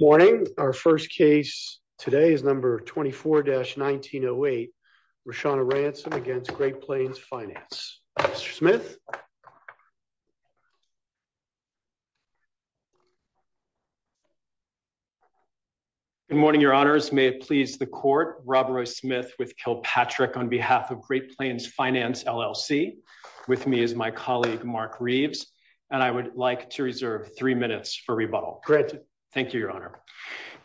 Morning our first case today is number 24-1908 Roshana Ransom against Great Plains Finance. Mr. Smith. Good morning your honors may it please the court Rob Roy Smith with Kilpatrick on behalf of Great Plains Finance LLC with me is my colleague Mark Reeves and I would like to reserve three minutes for rebuttal. Great thank you your honor.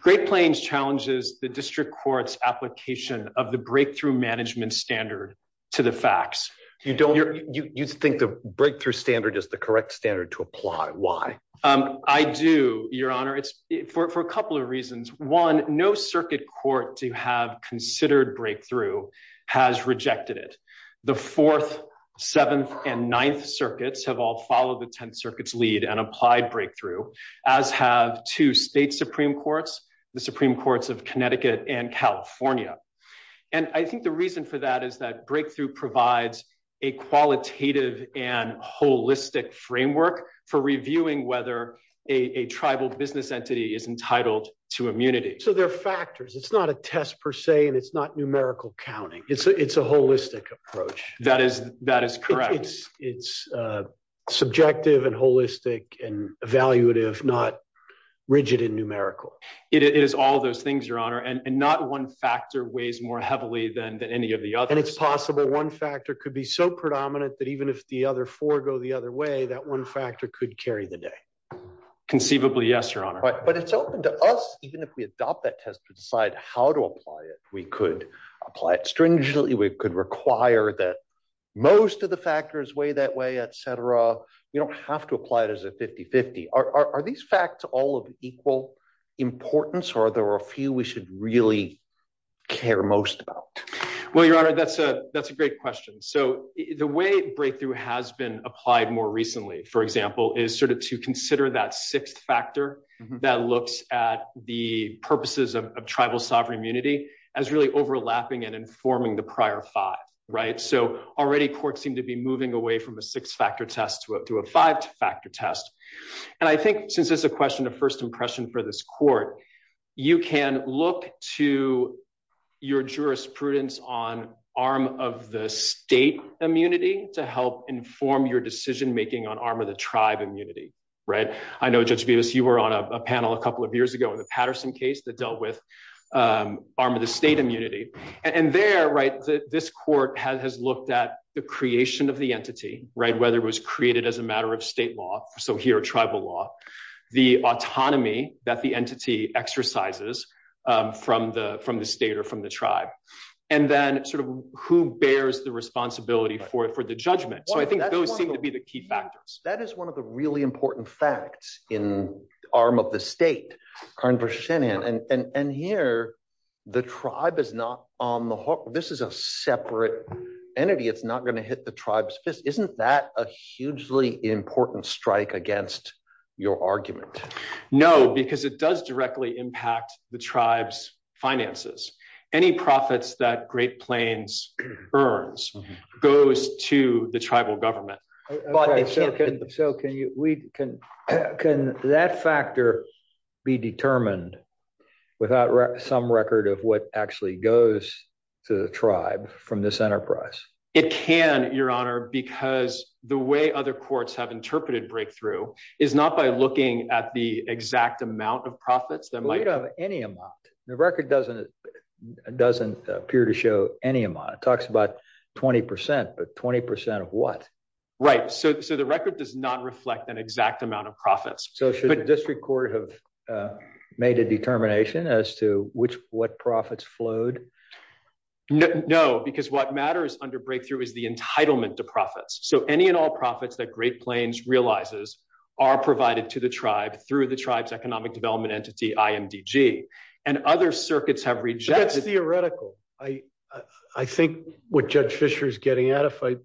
Great Plains challenges the district court's application of the breakthrough management standard to the facts. You don't you think the breakthrough standard is the correct standard to apply why? I do your honor it's for a couple of reasons. One no circuit court to have considered breakthrough has rejected it. The fourth, seventh, and ninth circuits have all followed the tenth circuit's lead and applied breakthrough as have two state supreme courts the supreme courts of Connecticut and California and I think the reason for that is that breakthrough provides a qualitative and holistic framework for reviewing whether a tribal business entity is entitled to immunity. So there are factors it's not a test per se and it's not numerical counting it's it's a holistic approach. That is that is correct. It's it's uh subjective and holistic and evaluative not rigid and numerical. It is all those things your honor and not one factor weighs more heavily than than any of the others. And it's possible one factor could be so predominant that even if the other four go the other way that one factor could carry the day. Conceivably yes your honor. But it's open to us even if we adopt that test to decide how to apply it. We could apply it stringently. We could require that most of the factors weigh that way etc. You don't have to apply it as a 50-50. Are these facts all of equal importance or are there a few we should really care most about? Well your honor that's a that's a great question. So the way breakthrough has been applied more recently for example is sort of to consider that sixth factor that looks at the purposes of tribal sovereign immunity as really overlapping and informing the prior five right. So already courts seem to be moving away from a six-factor test to a five-factor test. And I think since it's a question of first impression for this court you can look to your jurisprudence on arm of the state immunity to help inform your decision making on arm of the tribe immunity right. I know Judge Vivas you were on a panel a couple of years ago in the Patterson case that dealt with arm of the state immunity. And there right this court has looked at the creation of the entity right whether it was created as a matter of state law so here tribal law the autonomy that the entity exercises from the from the state or from the tribe. And then sort of who bears the responsibility for it for the judgment. So I think those seem to be the key factors. That is one of the really important facts in arm of the state. And here the tribe is not on the hook. This is a separate entity. It's not going to hit the tribe's fist. Isn't that a hugely important strike against your argument? No because it does directly impact the tribe's finances. Any profits that Great Plains earns goes to the tribal government. So can that factor be determined without some record of what actually goes to the tribe from this enterprise? It can your honor because the way other courts have interpreted breakthrough is not by looking at the exact amount of profits that might have any amount. The record doesn't doesn't appear to show any amount. It talks about 20 percent but 20 percent of what? Right so so the record does not reflect an exact amount of profits. So should the district court have made a determination as to which what profits flowed? No because what matters under breakthrough is the entitlement to profits. So any and all profits that Great Plains realizes are provided to the tribe through the tribe's economic development entity IMDG. And other circuits have rejected. That's theoretical. I think what Judge Fisher is getting at if I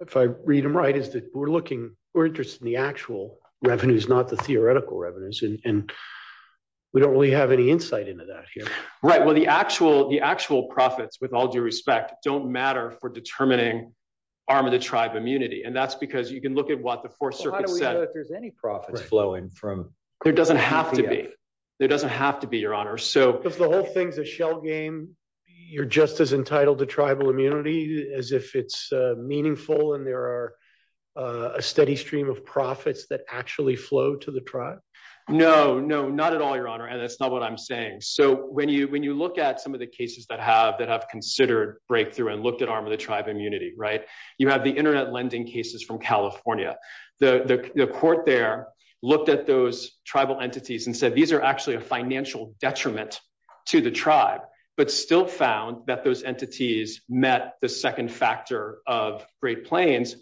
if I read him right is that we're looking we're interested in the actual revenues not the theoretical revenues. And we don't really have any insight into that here. Right well the actual the actual profits with all due respect don't matter for determining arm of the tribe immunity. And that's because you can look at what the fourth circuit said if there's any profits flowing from there doesn't have to be there doesn't have to be your honor. So if the whole thing's a shell game you're just as entitled to tribal immunity as if it's meaningful and there are a steady stream of profits that actually flow to the tribe. No no not at all your honor. And that's not what I'm saying. So when you when you look at some of the cases that have that have considered breakthrough and looked at arm of the tribe immunity right. You have the internet lending cases from California. The court there looked at those tribal entities and said these are actually a financial detriment to the tribe. But still found that those entities met the second factor of Great Plains.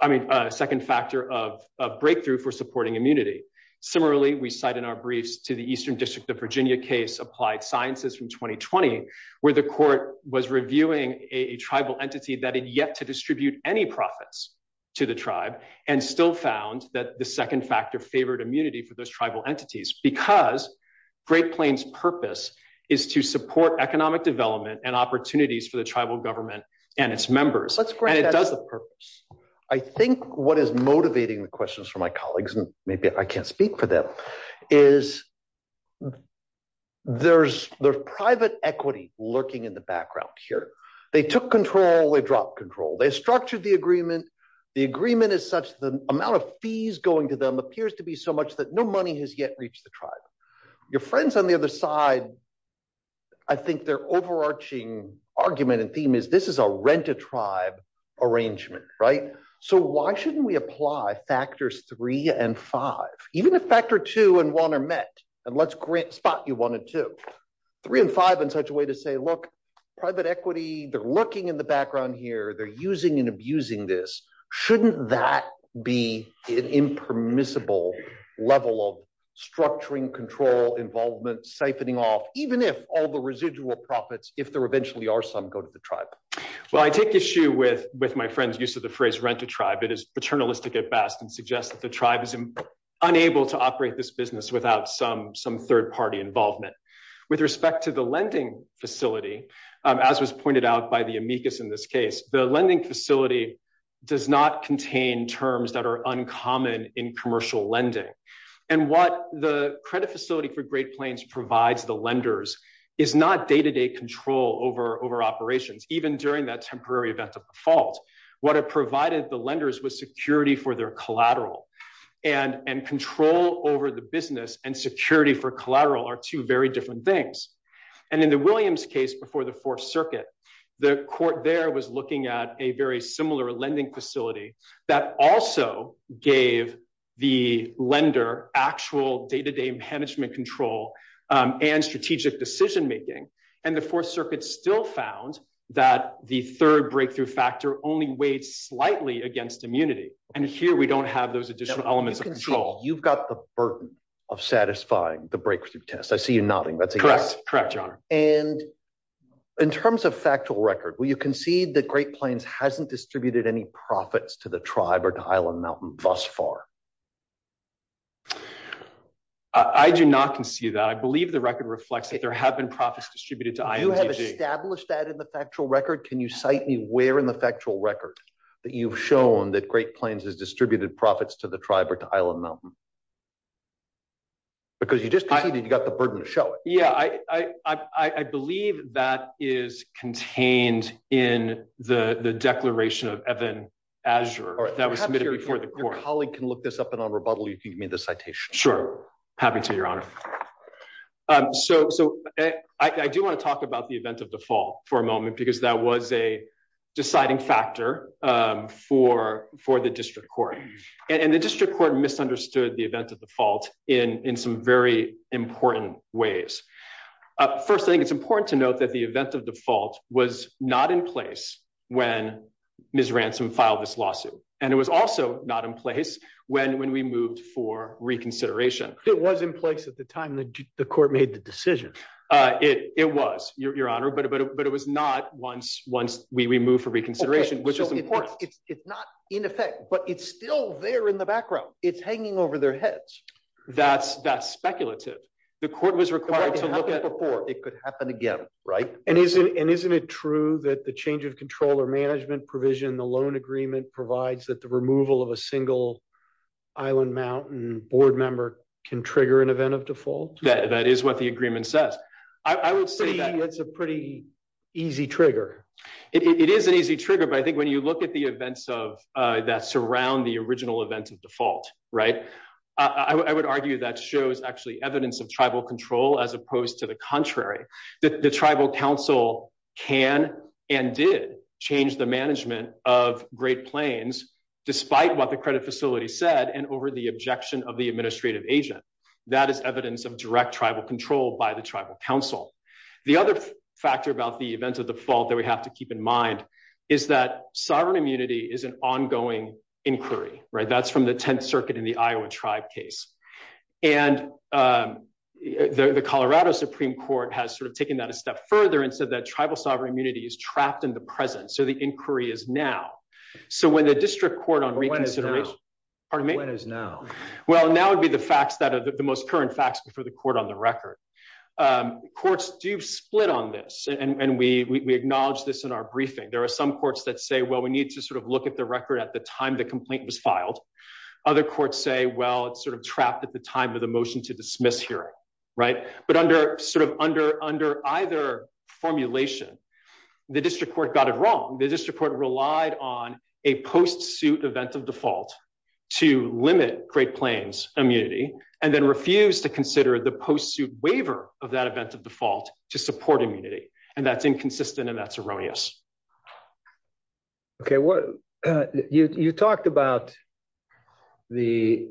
I mean a second factor of a breakthrough for supporting immunity. Similarly we cite in our briefs to the Eastern District of Virginia case applied sciences from 2020 where the court was reviewing a tribal entity that had yet to distribute any profits to the tribe and still found that the second factor favored immunity for those tribal entities. Because Great Plains purpose is to support economic development and opportunities for the tribal government and its members. Let's grant the purpose. I think what is motivating the questions for my colleagues and maybe I can't speak for them is there's there's private equity lurking in the background here. They took control they dropped control. They structured the agreement. The agreement is such the amount of fees going to them appears to be so much that no money has yet reached the tribe. Your friends on the other side I think their overarching argument and theme is this is a rent-a-tribe arrangement right. So why shouldn't we apply factors three and five. Even if factor two and one are met and let's grant spot you one or two. Three and five in such a way to say look private equity they're lurking in the background here. They're using and abusing this. Shouldn't that be an impermissible level of structuring control involvement siphoning off even if all residual profits if there eventually are some go to the tribe. Well I take issue with with my friend's use of the phrase rent-a-tribe. It is paternalistic at best and suggests that the tribe is unable to operate this business without some some third-party involvement. With respect to the lending facility as was pointed out by the amicus in this case the lending facility does not contain terms that are uncommon in commercial lending. And what the credit facility for Great Plains provides the lenders is not day-to-day control over over operations even during that temporary event of default. What it provided the lenders was security for their collateral and and control over the business and security for collateral are two very different things. And in the Williams case before the fourth circuit the court there was looking at a very similar lending facility that also gave the lender actual day-to-day management control and strategic decision making. And the fourth circuit still found that the third breakthrough factor only weighed slightly against immunity. And here we don't have those additional elements of control. You've got the burden of satisfying the breakthrough test. I see you nodding. That's correct. And in terms of factual record will you concede that Great Plains hasn't distributed any profits to the tribe or to Island Mountain thus far? I do not concede that. I believe the record reflects that there have been profits distributed to INDB. Do you have established that in the factual record? Can you cite me where in the factual record that you've shown that Great Plains has distributed profits to the tribe or to Island Mountain? Because you just conceded you got the burden to show it. Yeah I believe that is contained the declaration of Evan Azure that was submitted before the court. If your colleague can look this up and on rebuttal you can give me the citation. Sure happy to your honor. So I do want to talk about the event of default for a moment because that was a deciding factor for the district court. And the district court misunderstood the event of default in some very important ways. First thing it's important to note that the event of default was not in place when Ms. Ransom filed this lawsuit. And it was also not in place when we moved for reconsideration. It was in place at the time the court made the decision. It was your honor but it was not once we moved for reconsideration which is important. It's not in effect but it's still there in the background. It's hanging over their heads. That's that's speculative. The court was required to look at before it could happen again right. And isn't and isn't it true that the change of control or management provision the loan agreement provides that the removal of a single Island Mountain board member can trigger an event of default? That is what the agreement says. I would say it's a pretty easy trigger. It is an easy trigger but I think when you look at the events of uh that surround the original event of default right. I would argue that shows actually evidence of tribal control as opposed to the contrary. That the tribal council can and did change the management of Great Plains despite what the credit facility said and over the objection of the administrative agent. That is evidence of direct tribal control by the tribal council. The other factor about the default that we have to keep in mind is that sovereign immunity is an ongoing inquiry right. That's from the 10th circuit in the Iowa tribe case. And um the Colorado Supreme Court has sort of taken that a step further and said that tribal sovereign immunity is trapped in the present. So the inquiry is now. So when the district court on reconsideration. Pardon me? When is now? Well now would be the facts that are the most current facts before the court on the record. Um courts do split on this and and we we acknowledge this in our briefing. There are some courts that say well we need to sort of look at the record at the time the complaint was filed. Other courts say well it's sort of trapped at the time of the motion to dismiss hearing right. But under sort of under under either formulation the district court got it wrong. The district court relied on a post suit event of default to limit Great Plains immunity and then refused to consider the post suit waiver of that event of default to support immunity. And that's inconsistent and that's erroneous. Okay what you you talked about the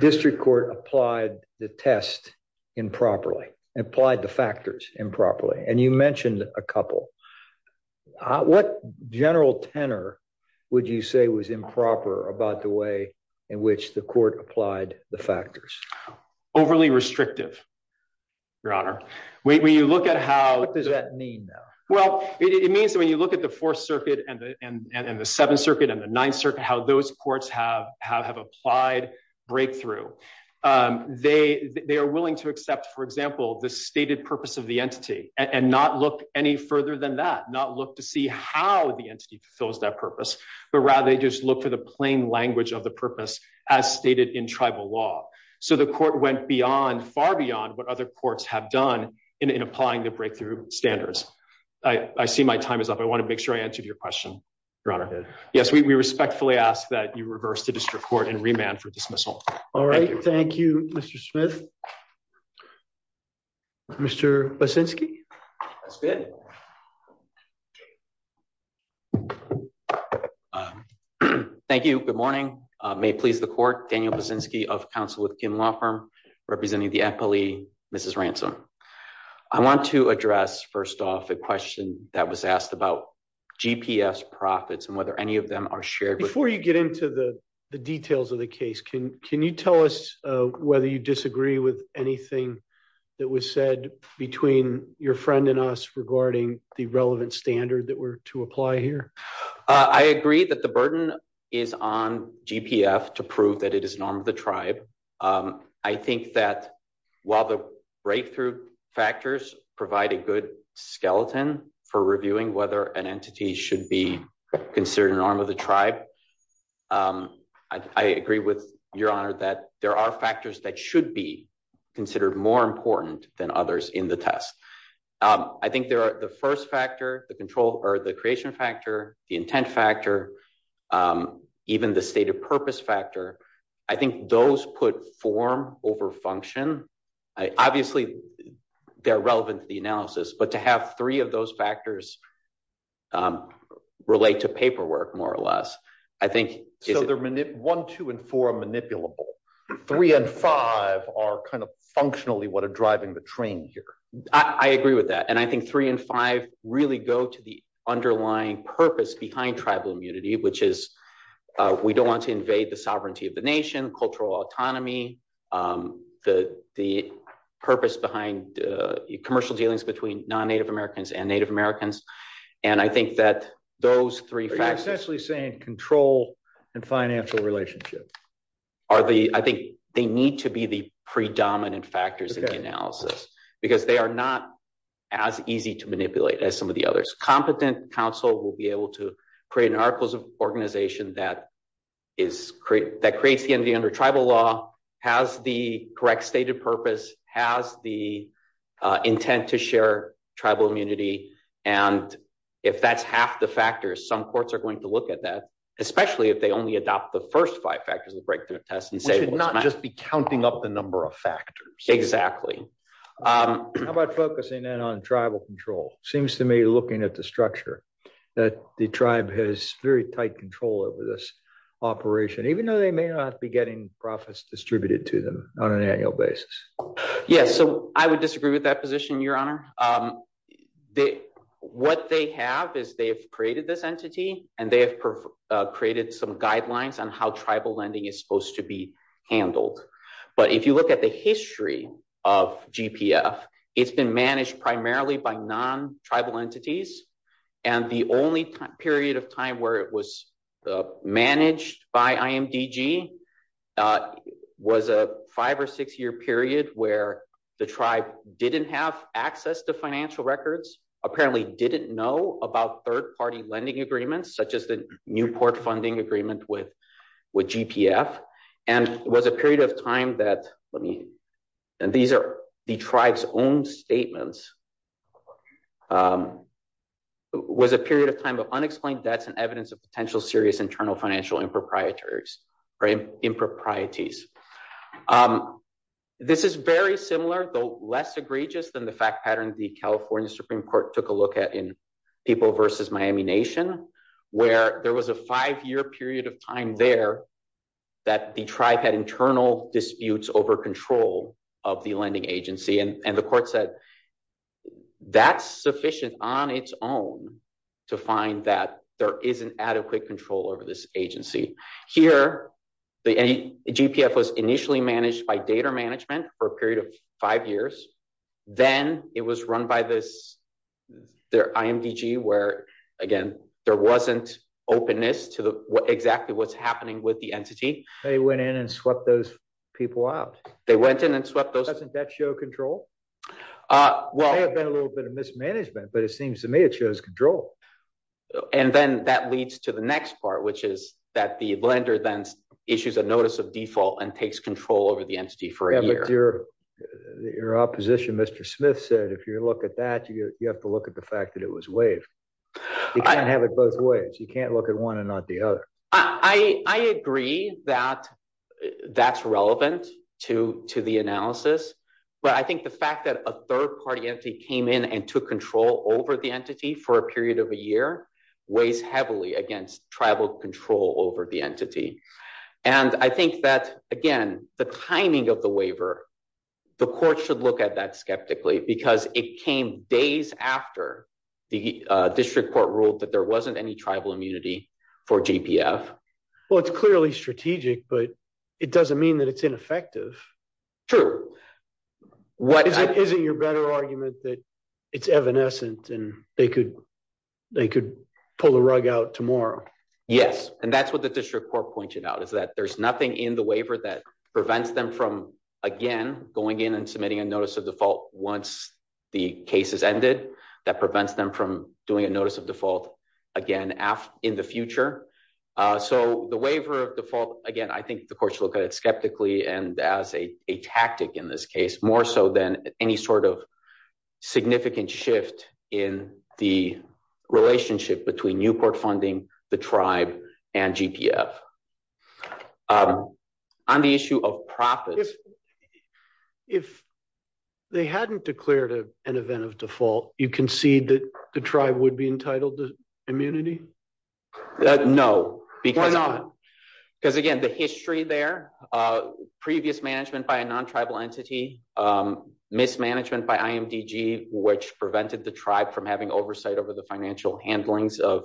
district court applied the test improperly applied the factors improperly and you mentioned a couple what general tenor would you say was improper about the way in which the court applied the factors overly restrictive your honor when you look at how what does that mean though well it means when you look at the fourth circuit and and and the seventh circuit and the ninth circuit how those courts have have have applied breakthrough um they they are willing to accept for example the stated purpose of the entity and not look any further than that not look to see how the entity fulfills that purpose but rather they just look for the plain language of the purpose as stated in tribal law so the court went beyond far beyond what other courts have done in in applying the breakthrough standards i i see my time is up i want to make sure i answered your question your honor yes we respectfully ask that you reverse the district court and remand for dismissal all right thank you mr smith mr basinski that's good okay thank you good morning uh may it please the court daniel basinski of council with kin law firm representing the employee mrs ransom i want to address first off a question that was asked about gps profits and whether any of them are shared before you get into the the details of the case can can you tell us uh whether you disagree with anything that was said between your friend and us regarding the relevant standard that were to apply here uh i agree that the burden is on gpf to prove that it is an arm of the tribe um i think that while the breakthrough factors provide a good skeleton for reviewing whether an entity should be considered an arm of the tribe um i agree with your honor that there are factors that should be considered more important than others in the test um i think there are the first factor the control or the creation factor the intent factor um even the state of purpose factor i think those put form over function obviously they're relevant to the analysis but to have three of those factors relate to paperwork more or less i think so they're manip one two and four manipulable three and five are kind of functionally what are driving the train here i agree with that and i think three and five really go to the underlying purpose behind tribal immunity which is uh we don't want to invade the sovereignty of the nation cultural autonomy um the the purpose behind uh commercial dealings between non-native americans and native americans and i think that those three essentially saying control and financial relationships are the i think they need to be the predominant factors in the analysis because they are not as easy to manipulate as some of the others competent council will be able to create an articles of organization that is create that creates the entity under tribal law has the correct stated purpose has the intent to share tribal immunity and if that's half the factors some courts are going to look at that especially if they only adopt the first five factors of the breakthrough test and say not just be counting up the number of factors exactly um how about focusing in on tribal control seems to me looking at the structure that the tribe has very tight control over this operation even though they may not be getting profits distributed to them on an annual basis yes so i would disagree with that position your honor um the what they have is they've created this entity and they have created some guidelines on how tribal lending is supposed to be handled but if you look at the history of gpf it's been managed primarily by non-tribal entities and the only time period of time where it was managed by imdg was a five or six year period where the tribe didn't have access to financial records apparently didn't know about third-party lending agreements such as the newport funding agreement with with gpf and it was a period of that let me and these are the tribe's own statements um was a period of time of unexplained debts and evidence of potential serious internal financial improprietaries or improprieties um this is very similar though less egregious than the fact pattern the california supreme court took a look at in people versus miami nation where there was a five-year period of time there that the tribe had internal disputes over control of the lending agency and the court said that's sufficient on its own to find that there is an adequate control over this agency here the gpf was initially managed by data management for a period of five years then it was run by this their imdg where again there wasn't openness to the exactly what's happening with the entity they went in and swept those people out they went in and swept those doesn't that show control uh well there's been a little bit of mismanagement but it seems to me it shows control and then that leads to the next part which is that the lender then issues a notice of default and takes control over the entity for a year your your opposition mr smith said if you look at that you have to look at the fact that it was waived you can't have it both ways you can't look at one and not the other i i agree that that's relevant to to the analysis but i think the fact that a third-party entity came in and took control over the entity for a period of a year weighs heavily against tribal control over the entity and i think that again the timing of the waiver the court should look at that skeptically because it came days after the uh district court ruled that there wasn't any tribal immunity for gpf well it's clearly strategic but it doesn't mean that it's ineffective true what is it isn't your better argument that it's evanescent and they could they could pull the rug out tomorrow yes and that's what the district court pointed out is that there's nothing in the waiver that prevents them from again going in and submitting a notice of default once the case is ended that prevents them from doing a notice of default again in the future so the waiver of default again i think the courts look at it skeptically and as a tactic in this case more so than any sort of significant shift in the relationship between newport funding the tribe and gpf um on the issue of profits if they hadn't declared a an event of default you concede that the tribe would be entitled to immunity no because not because again the history there uh previous management by a non-tribal entity um mismanagement by imdg which prevented the tribe from having oversight over the financial handlings of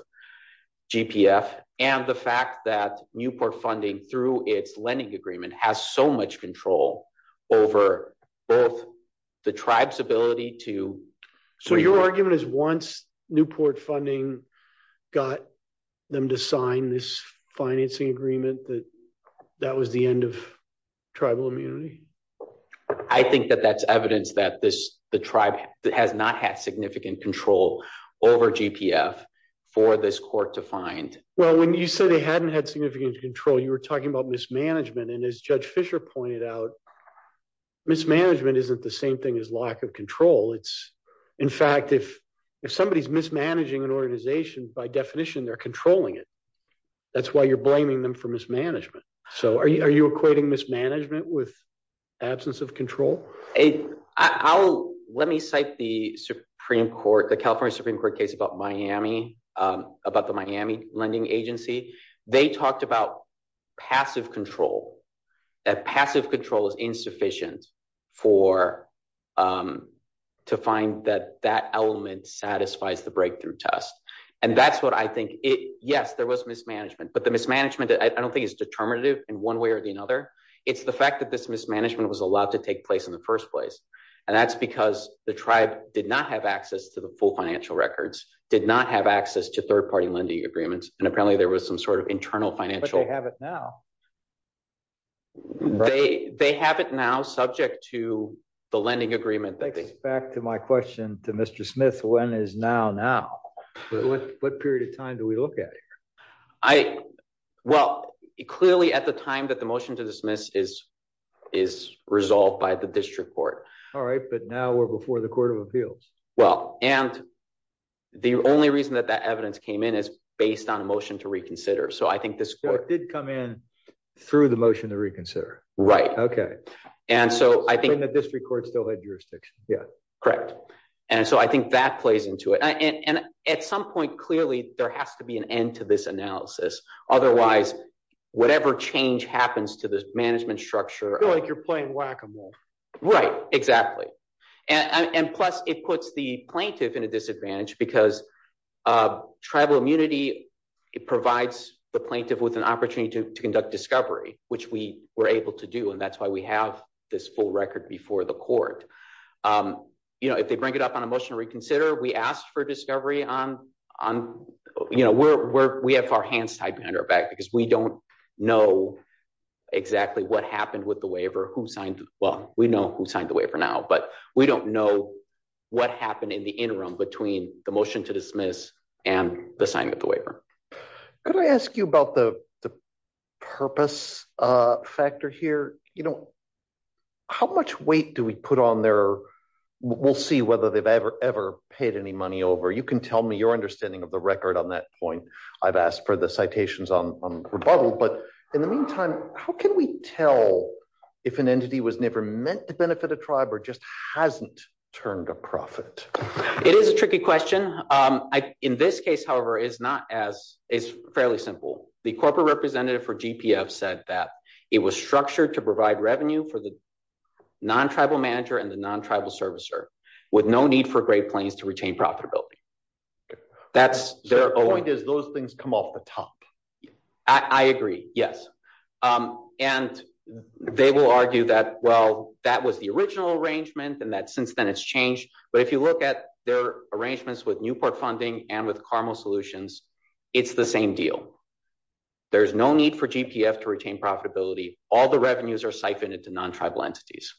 gpf and the fact that newport funding through its lending agreement has so much control over both the tribe's ability to so your argument is once newport funding got them to sign this financing agreement that that was the end of tribal immunity i think that that's evidence that this the tribe has not had significant control over gpf for this court to find well when you said they hadn't had significant control you were talking about mismanagement and as judge fisher pointed out mismanagement isn't the same thing as lack of control it's in fact if if somebody's mismanaging an organization by definition they're controlling it that's why you're blaming them for mismanagement so are you equating mismanagement with absence of control hey i'll let me cite the supreme court the california supreme court case about miami um about the miami lending agency they talked about passive control that passive control is insufficient for um to find that that element satisfies the breakthrough test and that's what i think it yes there was mismanagement but the mismanagement i don't think is determinative in one way or the another it's the fact that this mismanagement was allowed to take place in the first place and that's because the tribe did not have access to the full financial records did not have access to third-party lending agreements and apparently there was some sort of internal financial they have it now they they have it now subject to the lending agreement thanks back to my question to mr smith when is now now what period of time do we look at i well clearly at the time that the motion to dismiss is is resolved by the district court all right but now we're before the court of appeals well and the only reason that that evidence came in is based on a motion to reconsider so i think this court did come in through the motion to reconsider right okay and so i think the district court still had jurisdiction yeah correct and so i think that plays into it and at some point clearly there has to be an end to this analysis otherwise whatever change happens to this management structure like you're playing whack-a-mole right exactly and and plus it puts the plaintiff in a disadvantage because uh tribal immunity it provides the plaintiff with an opportunity to conduct discovery which we were able to do and that's why we have this full record before the court um you know if they bring up on a motion to reconsider we asked for discovery on on you know we're we have our hands tied behind our back because we don't know exactly what happened with the waiver who signed well we know who signed the waiver now but we don't know what happened in the interim between the motion to dismiss and the signing of the waiver could i ask you about the the purpose uh you know how much weight do we put on there we'll see whether they've ever ever paid any money over you can tell me your understanding of the record on that point i've asked for the citations on rebuttal but in the meantime how can we tell if an entity was never meant to benefit a tribe or just hasn't turned a profit it is a tricky question um i in this case however is not as it's fairly simple the corporate representative for gpf said that it was structured to provide revenue for the non-tribal manager and the non-tribal servicer with no need for great planes to retain profitability that's their point is those things come off the top i i agree yes um and they will argue that well that was the original arrangement and that since then it's changed but if you look at their arrangements with newport funding and with carmel solutions it's the same deal there's no need for gpf to retain profitability all the revenues are siphoned into non-tribal entities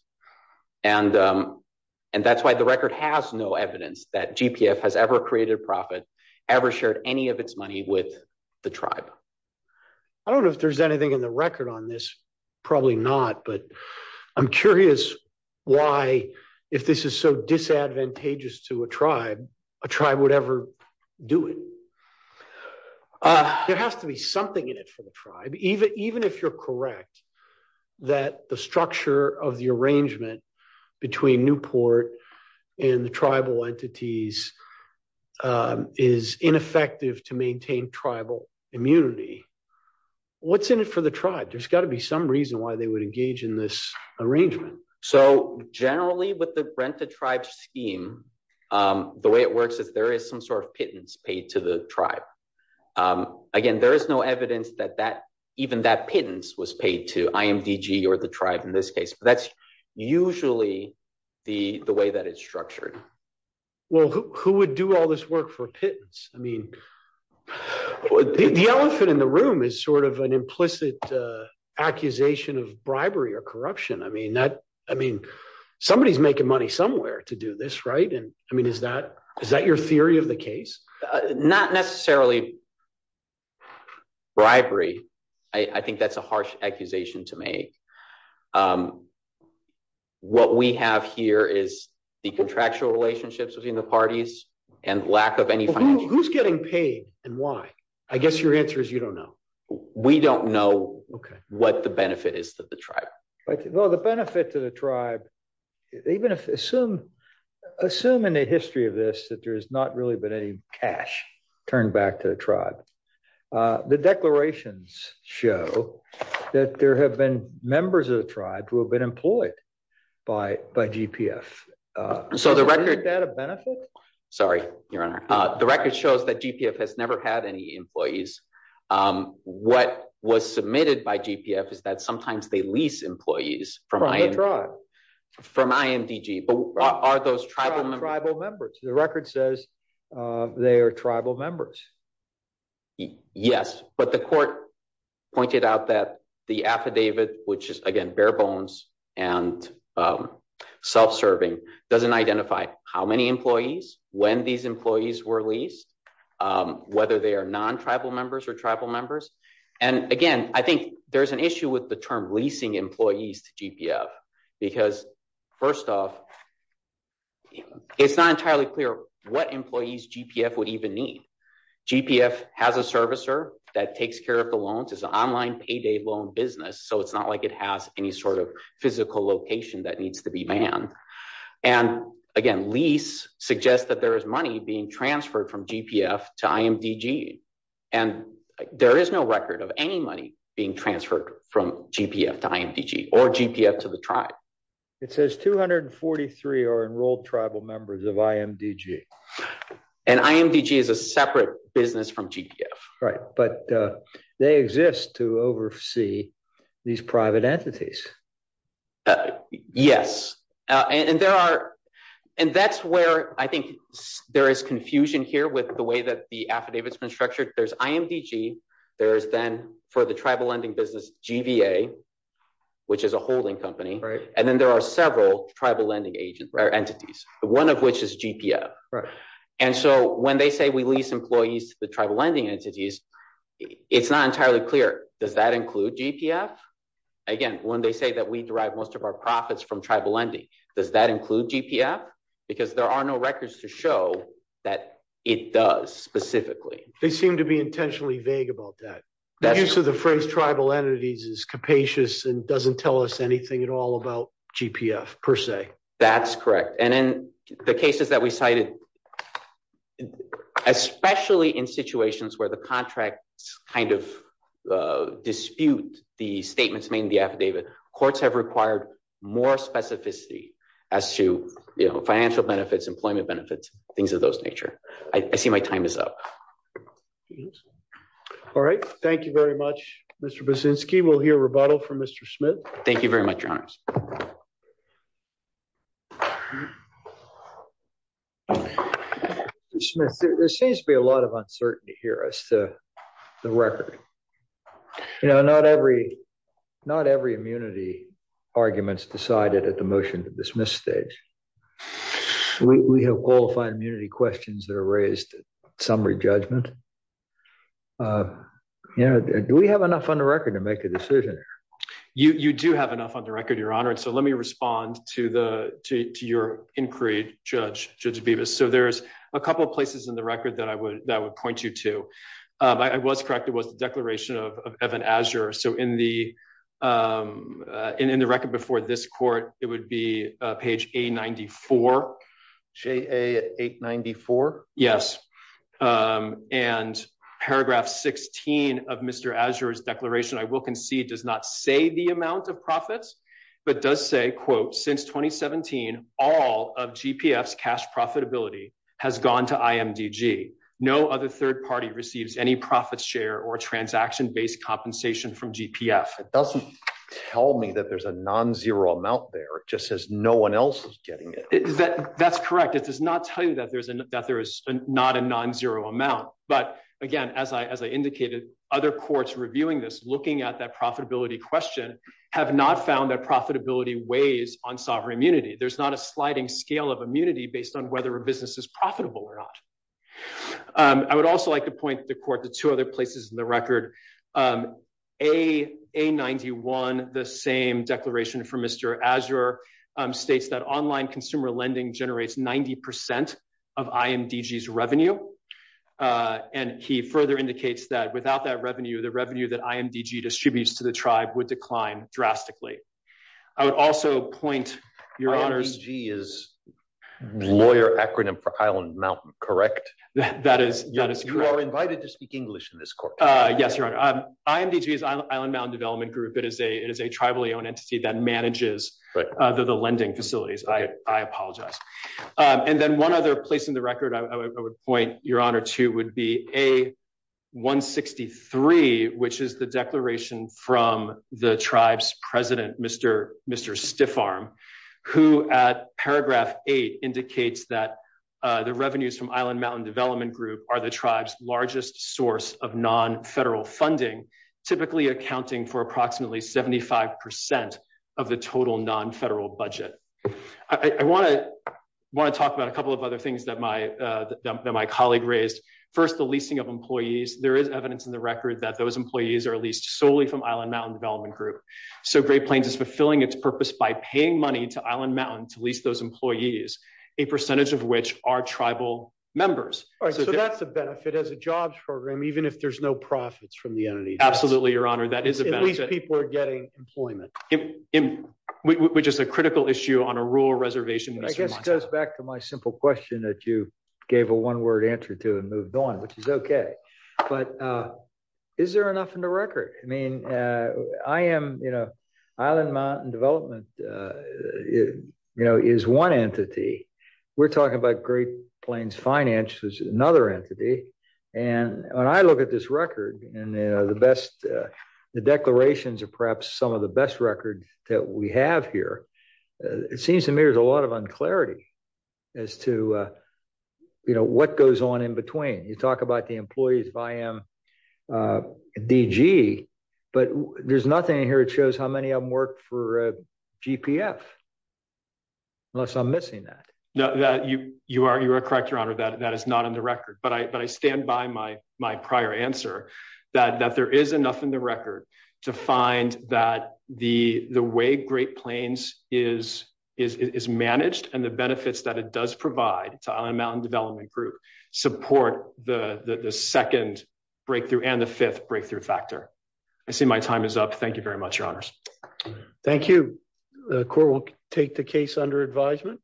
and um and that's why the record has no evidence that gpf has ever created profit ever shared any of its money with the tribe i don't know if there's anything in the record on this probably not but i'm curious why if this is so disadvantageous to a tribe a tribe would ever do it uh there has to be something in it for the tribe even even if you're correct that the structure of the arrangement between newport and the tribal entities um is ineffective to maintain tribal immunity what's in it for the tribe there's got to be some reason why they would engage in this arrangement so generally with the rent-a-tribe scheme um the way it works is there is some sort of pittance paid to the tribe um again there is no evidence that that even that pittance was paid to imdg or the tribe in this case but that's usually the the way that it's structured well who would do all this work for pittance i mean well the elephant in the room is sort of an implicit uh accusation of bribery or corruption i mean that i mean somebody's making money somewhere to do this right and i mean is that is that your theory of the case not necessarily bribery i i think that's a harsh accusation to make um what we have here is the contractual relationships between the parties and lack of who's getting paid and why i guess your answer is you don't know we don't know okay what the benefit is that the tribe well the benefit to the tribe even if assume assume in the history of this that there has not really been any cash turned back to the tribe uh the declarations show that there have been members of the tribe who have been employed by by gpf uh so the record data benefit sorry your honor uh the record shows that gpf has never had any employees um what was submitted by gpf is that sometimes they lease employees from my tribe from imdg but are those tribal tribal members the record says uh they are tribal members yes but the court pointed out that the affidavit which is again bare bones and um self-serving doesn't identify how many employees when these employees were leased um whether they are non-tribal members or tribal members and again i think there's an issue with the term leasing employees to gpf because first off it's not entirely clear what employees gpf would even need gpf has a servicer that takes care of the loans it's an online payday loan business so it's not like it has any sort of physical location that needs to be manned and again lease suggests that there is money being transferred from gpf to imdg and there is no record of any money being transferred from gpf to imdg or gpf to the tribe it says 243 are enrolled tribal members of imdg and imdg is a separate business right but uh they exist to oversee these private entities yes and there are and that's where i think there is confusion here with the way that the affidavit's been structured there's imdg there is then for the tribal lending business gva which is a holding company right and then there are several tribal lending agents or entities one of which is gpf right and so when they say lease employees to the tribal lending entities it's not entirely clear does that include gpf again when they say that we derive most of our profits from tribal lending does that include gpf because there are no records to show that it does specifically they seem to be intentionally vague about that the use of the phrase tribal entities is capacious and doesn't tell us anything at all about gpf per se that's correct and in the cases that we cited especially in situations where the contracts kind of dispute the statements made in the affidavit courts have required more specificity as to you know financial benefits employment benefits things of those nature i see my time is up all right thank you very much mr basinski we'll hear rebuttal from mr smith thank you very much your honor mr smith there seems to be a lot of uncertainty here as to the record you know not every not every immunity arguments decided at the motion to dismiss stage we have qualified immunity questions that are raised summary judgment uh you know do we have enough on the record to make a decision you you do have enough on the record your honor and so let me respond to the to your inquiry judge judge beavis so there's a couple of places in the record that i would that would point you to um i was correct it was the declaration of evan azure so in the um in in the record before this court it would be uh page a94 j a894 yes um and paragraph 16 of mr azure's declaration i will concede does not say the amount of profits but does say quote since 2017 all of gpf's cash profitability has gone to imdg no other third party receives any profit share or transaction based compensation from gpf it doesn't tell me that there's a non-zero amount there it just says no one else is getting it that that's correct it does not tell you that that there is not a non-zero amount but again as i as i indicated other courts reviewing this looking at that profitability question have not found that profitability weighs on sovereign immunity there's not a sliding scale of immunity based on whether a business is profitable or not i would also like to point the court to two other places in the record um a a91 the same declaration from mr azure states that online consumer lending generates 90 percent of imdg's revenue uh and he further indicates that without that revenue the revenue that imdg distributes to the tribe would decline drastically i would also point your honors g is lawyer acronym for island mountain correct that is that is you are invited to speak english in this court uh yes imdg is island mountain development group it is a it is a tribally owned entity that manages the lending facilities i i apologize um and then one other place in the record i would point your honor to would be a 163 which is the declaration from the tribe's president mr mr stiff arm who at paragraph eight indicates that uh the revenues from island mountain development group are the largest source of non-federal funding typically accounting for approximately 75 percent of the total non-federal budget i i want to want to talk about a couple of other things that my uh that my colleague raised first the leasing of employees there is evidence in the record that those employees are leased solely from island mountain development group so great plains is fulfilling its purpose by paying money to island mountain to lease those employees a percentage of which are tribal members all right so that's a benefit as a jobs program even if there's no profits from the entity absolutely your honor that is at least people are getting employment which is a critical issue on a rural reservation i guess goes back to my simple question that you gave a one-word answer to and moved on which is okay but uh is there enough in the record i mean i am you know island mountain development uh you know is one entity we're talking about great plains finance is another entity and when i look at this record and you know the best the declarations are perhaps some of the best records that we have here it seems to me there's a lot of unclarity as to uh you know what goes on in between you talk about the employees if i am uh dg but there's nothing in here it shows how many of them work for gpf unless i'm missing that no that you you are you are correct your honor that that is not in the record but i but i stand by my my prior answer that that there is enough in the record to find that the the way great plains is is is managed and the benefits that it does provide to island mountain development group support the the second breakthrough and the fifth breakthrough factor i see my time is up thank you very much your honors thank you the court will take the case under advisement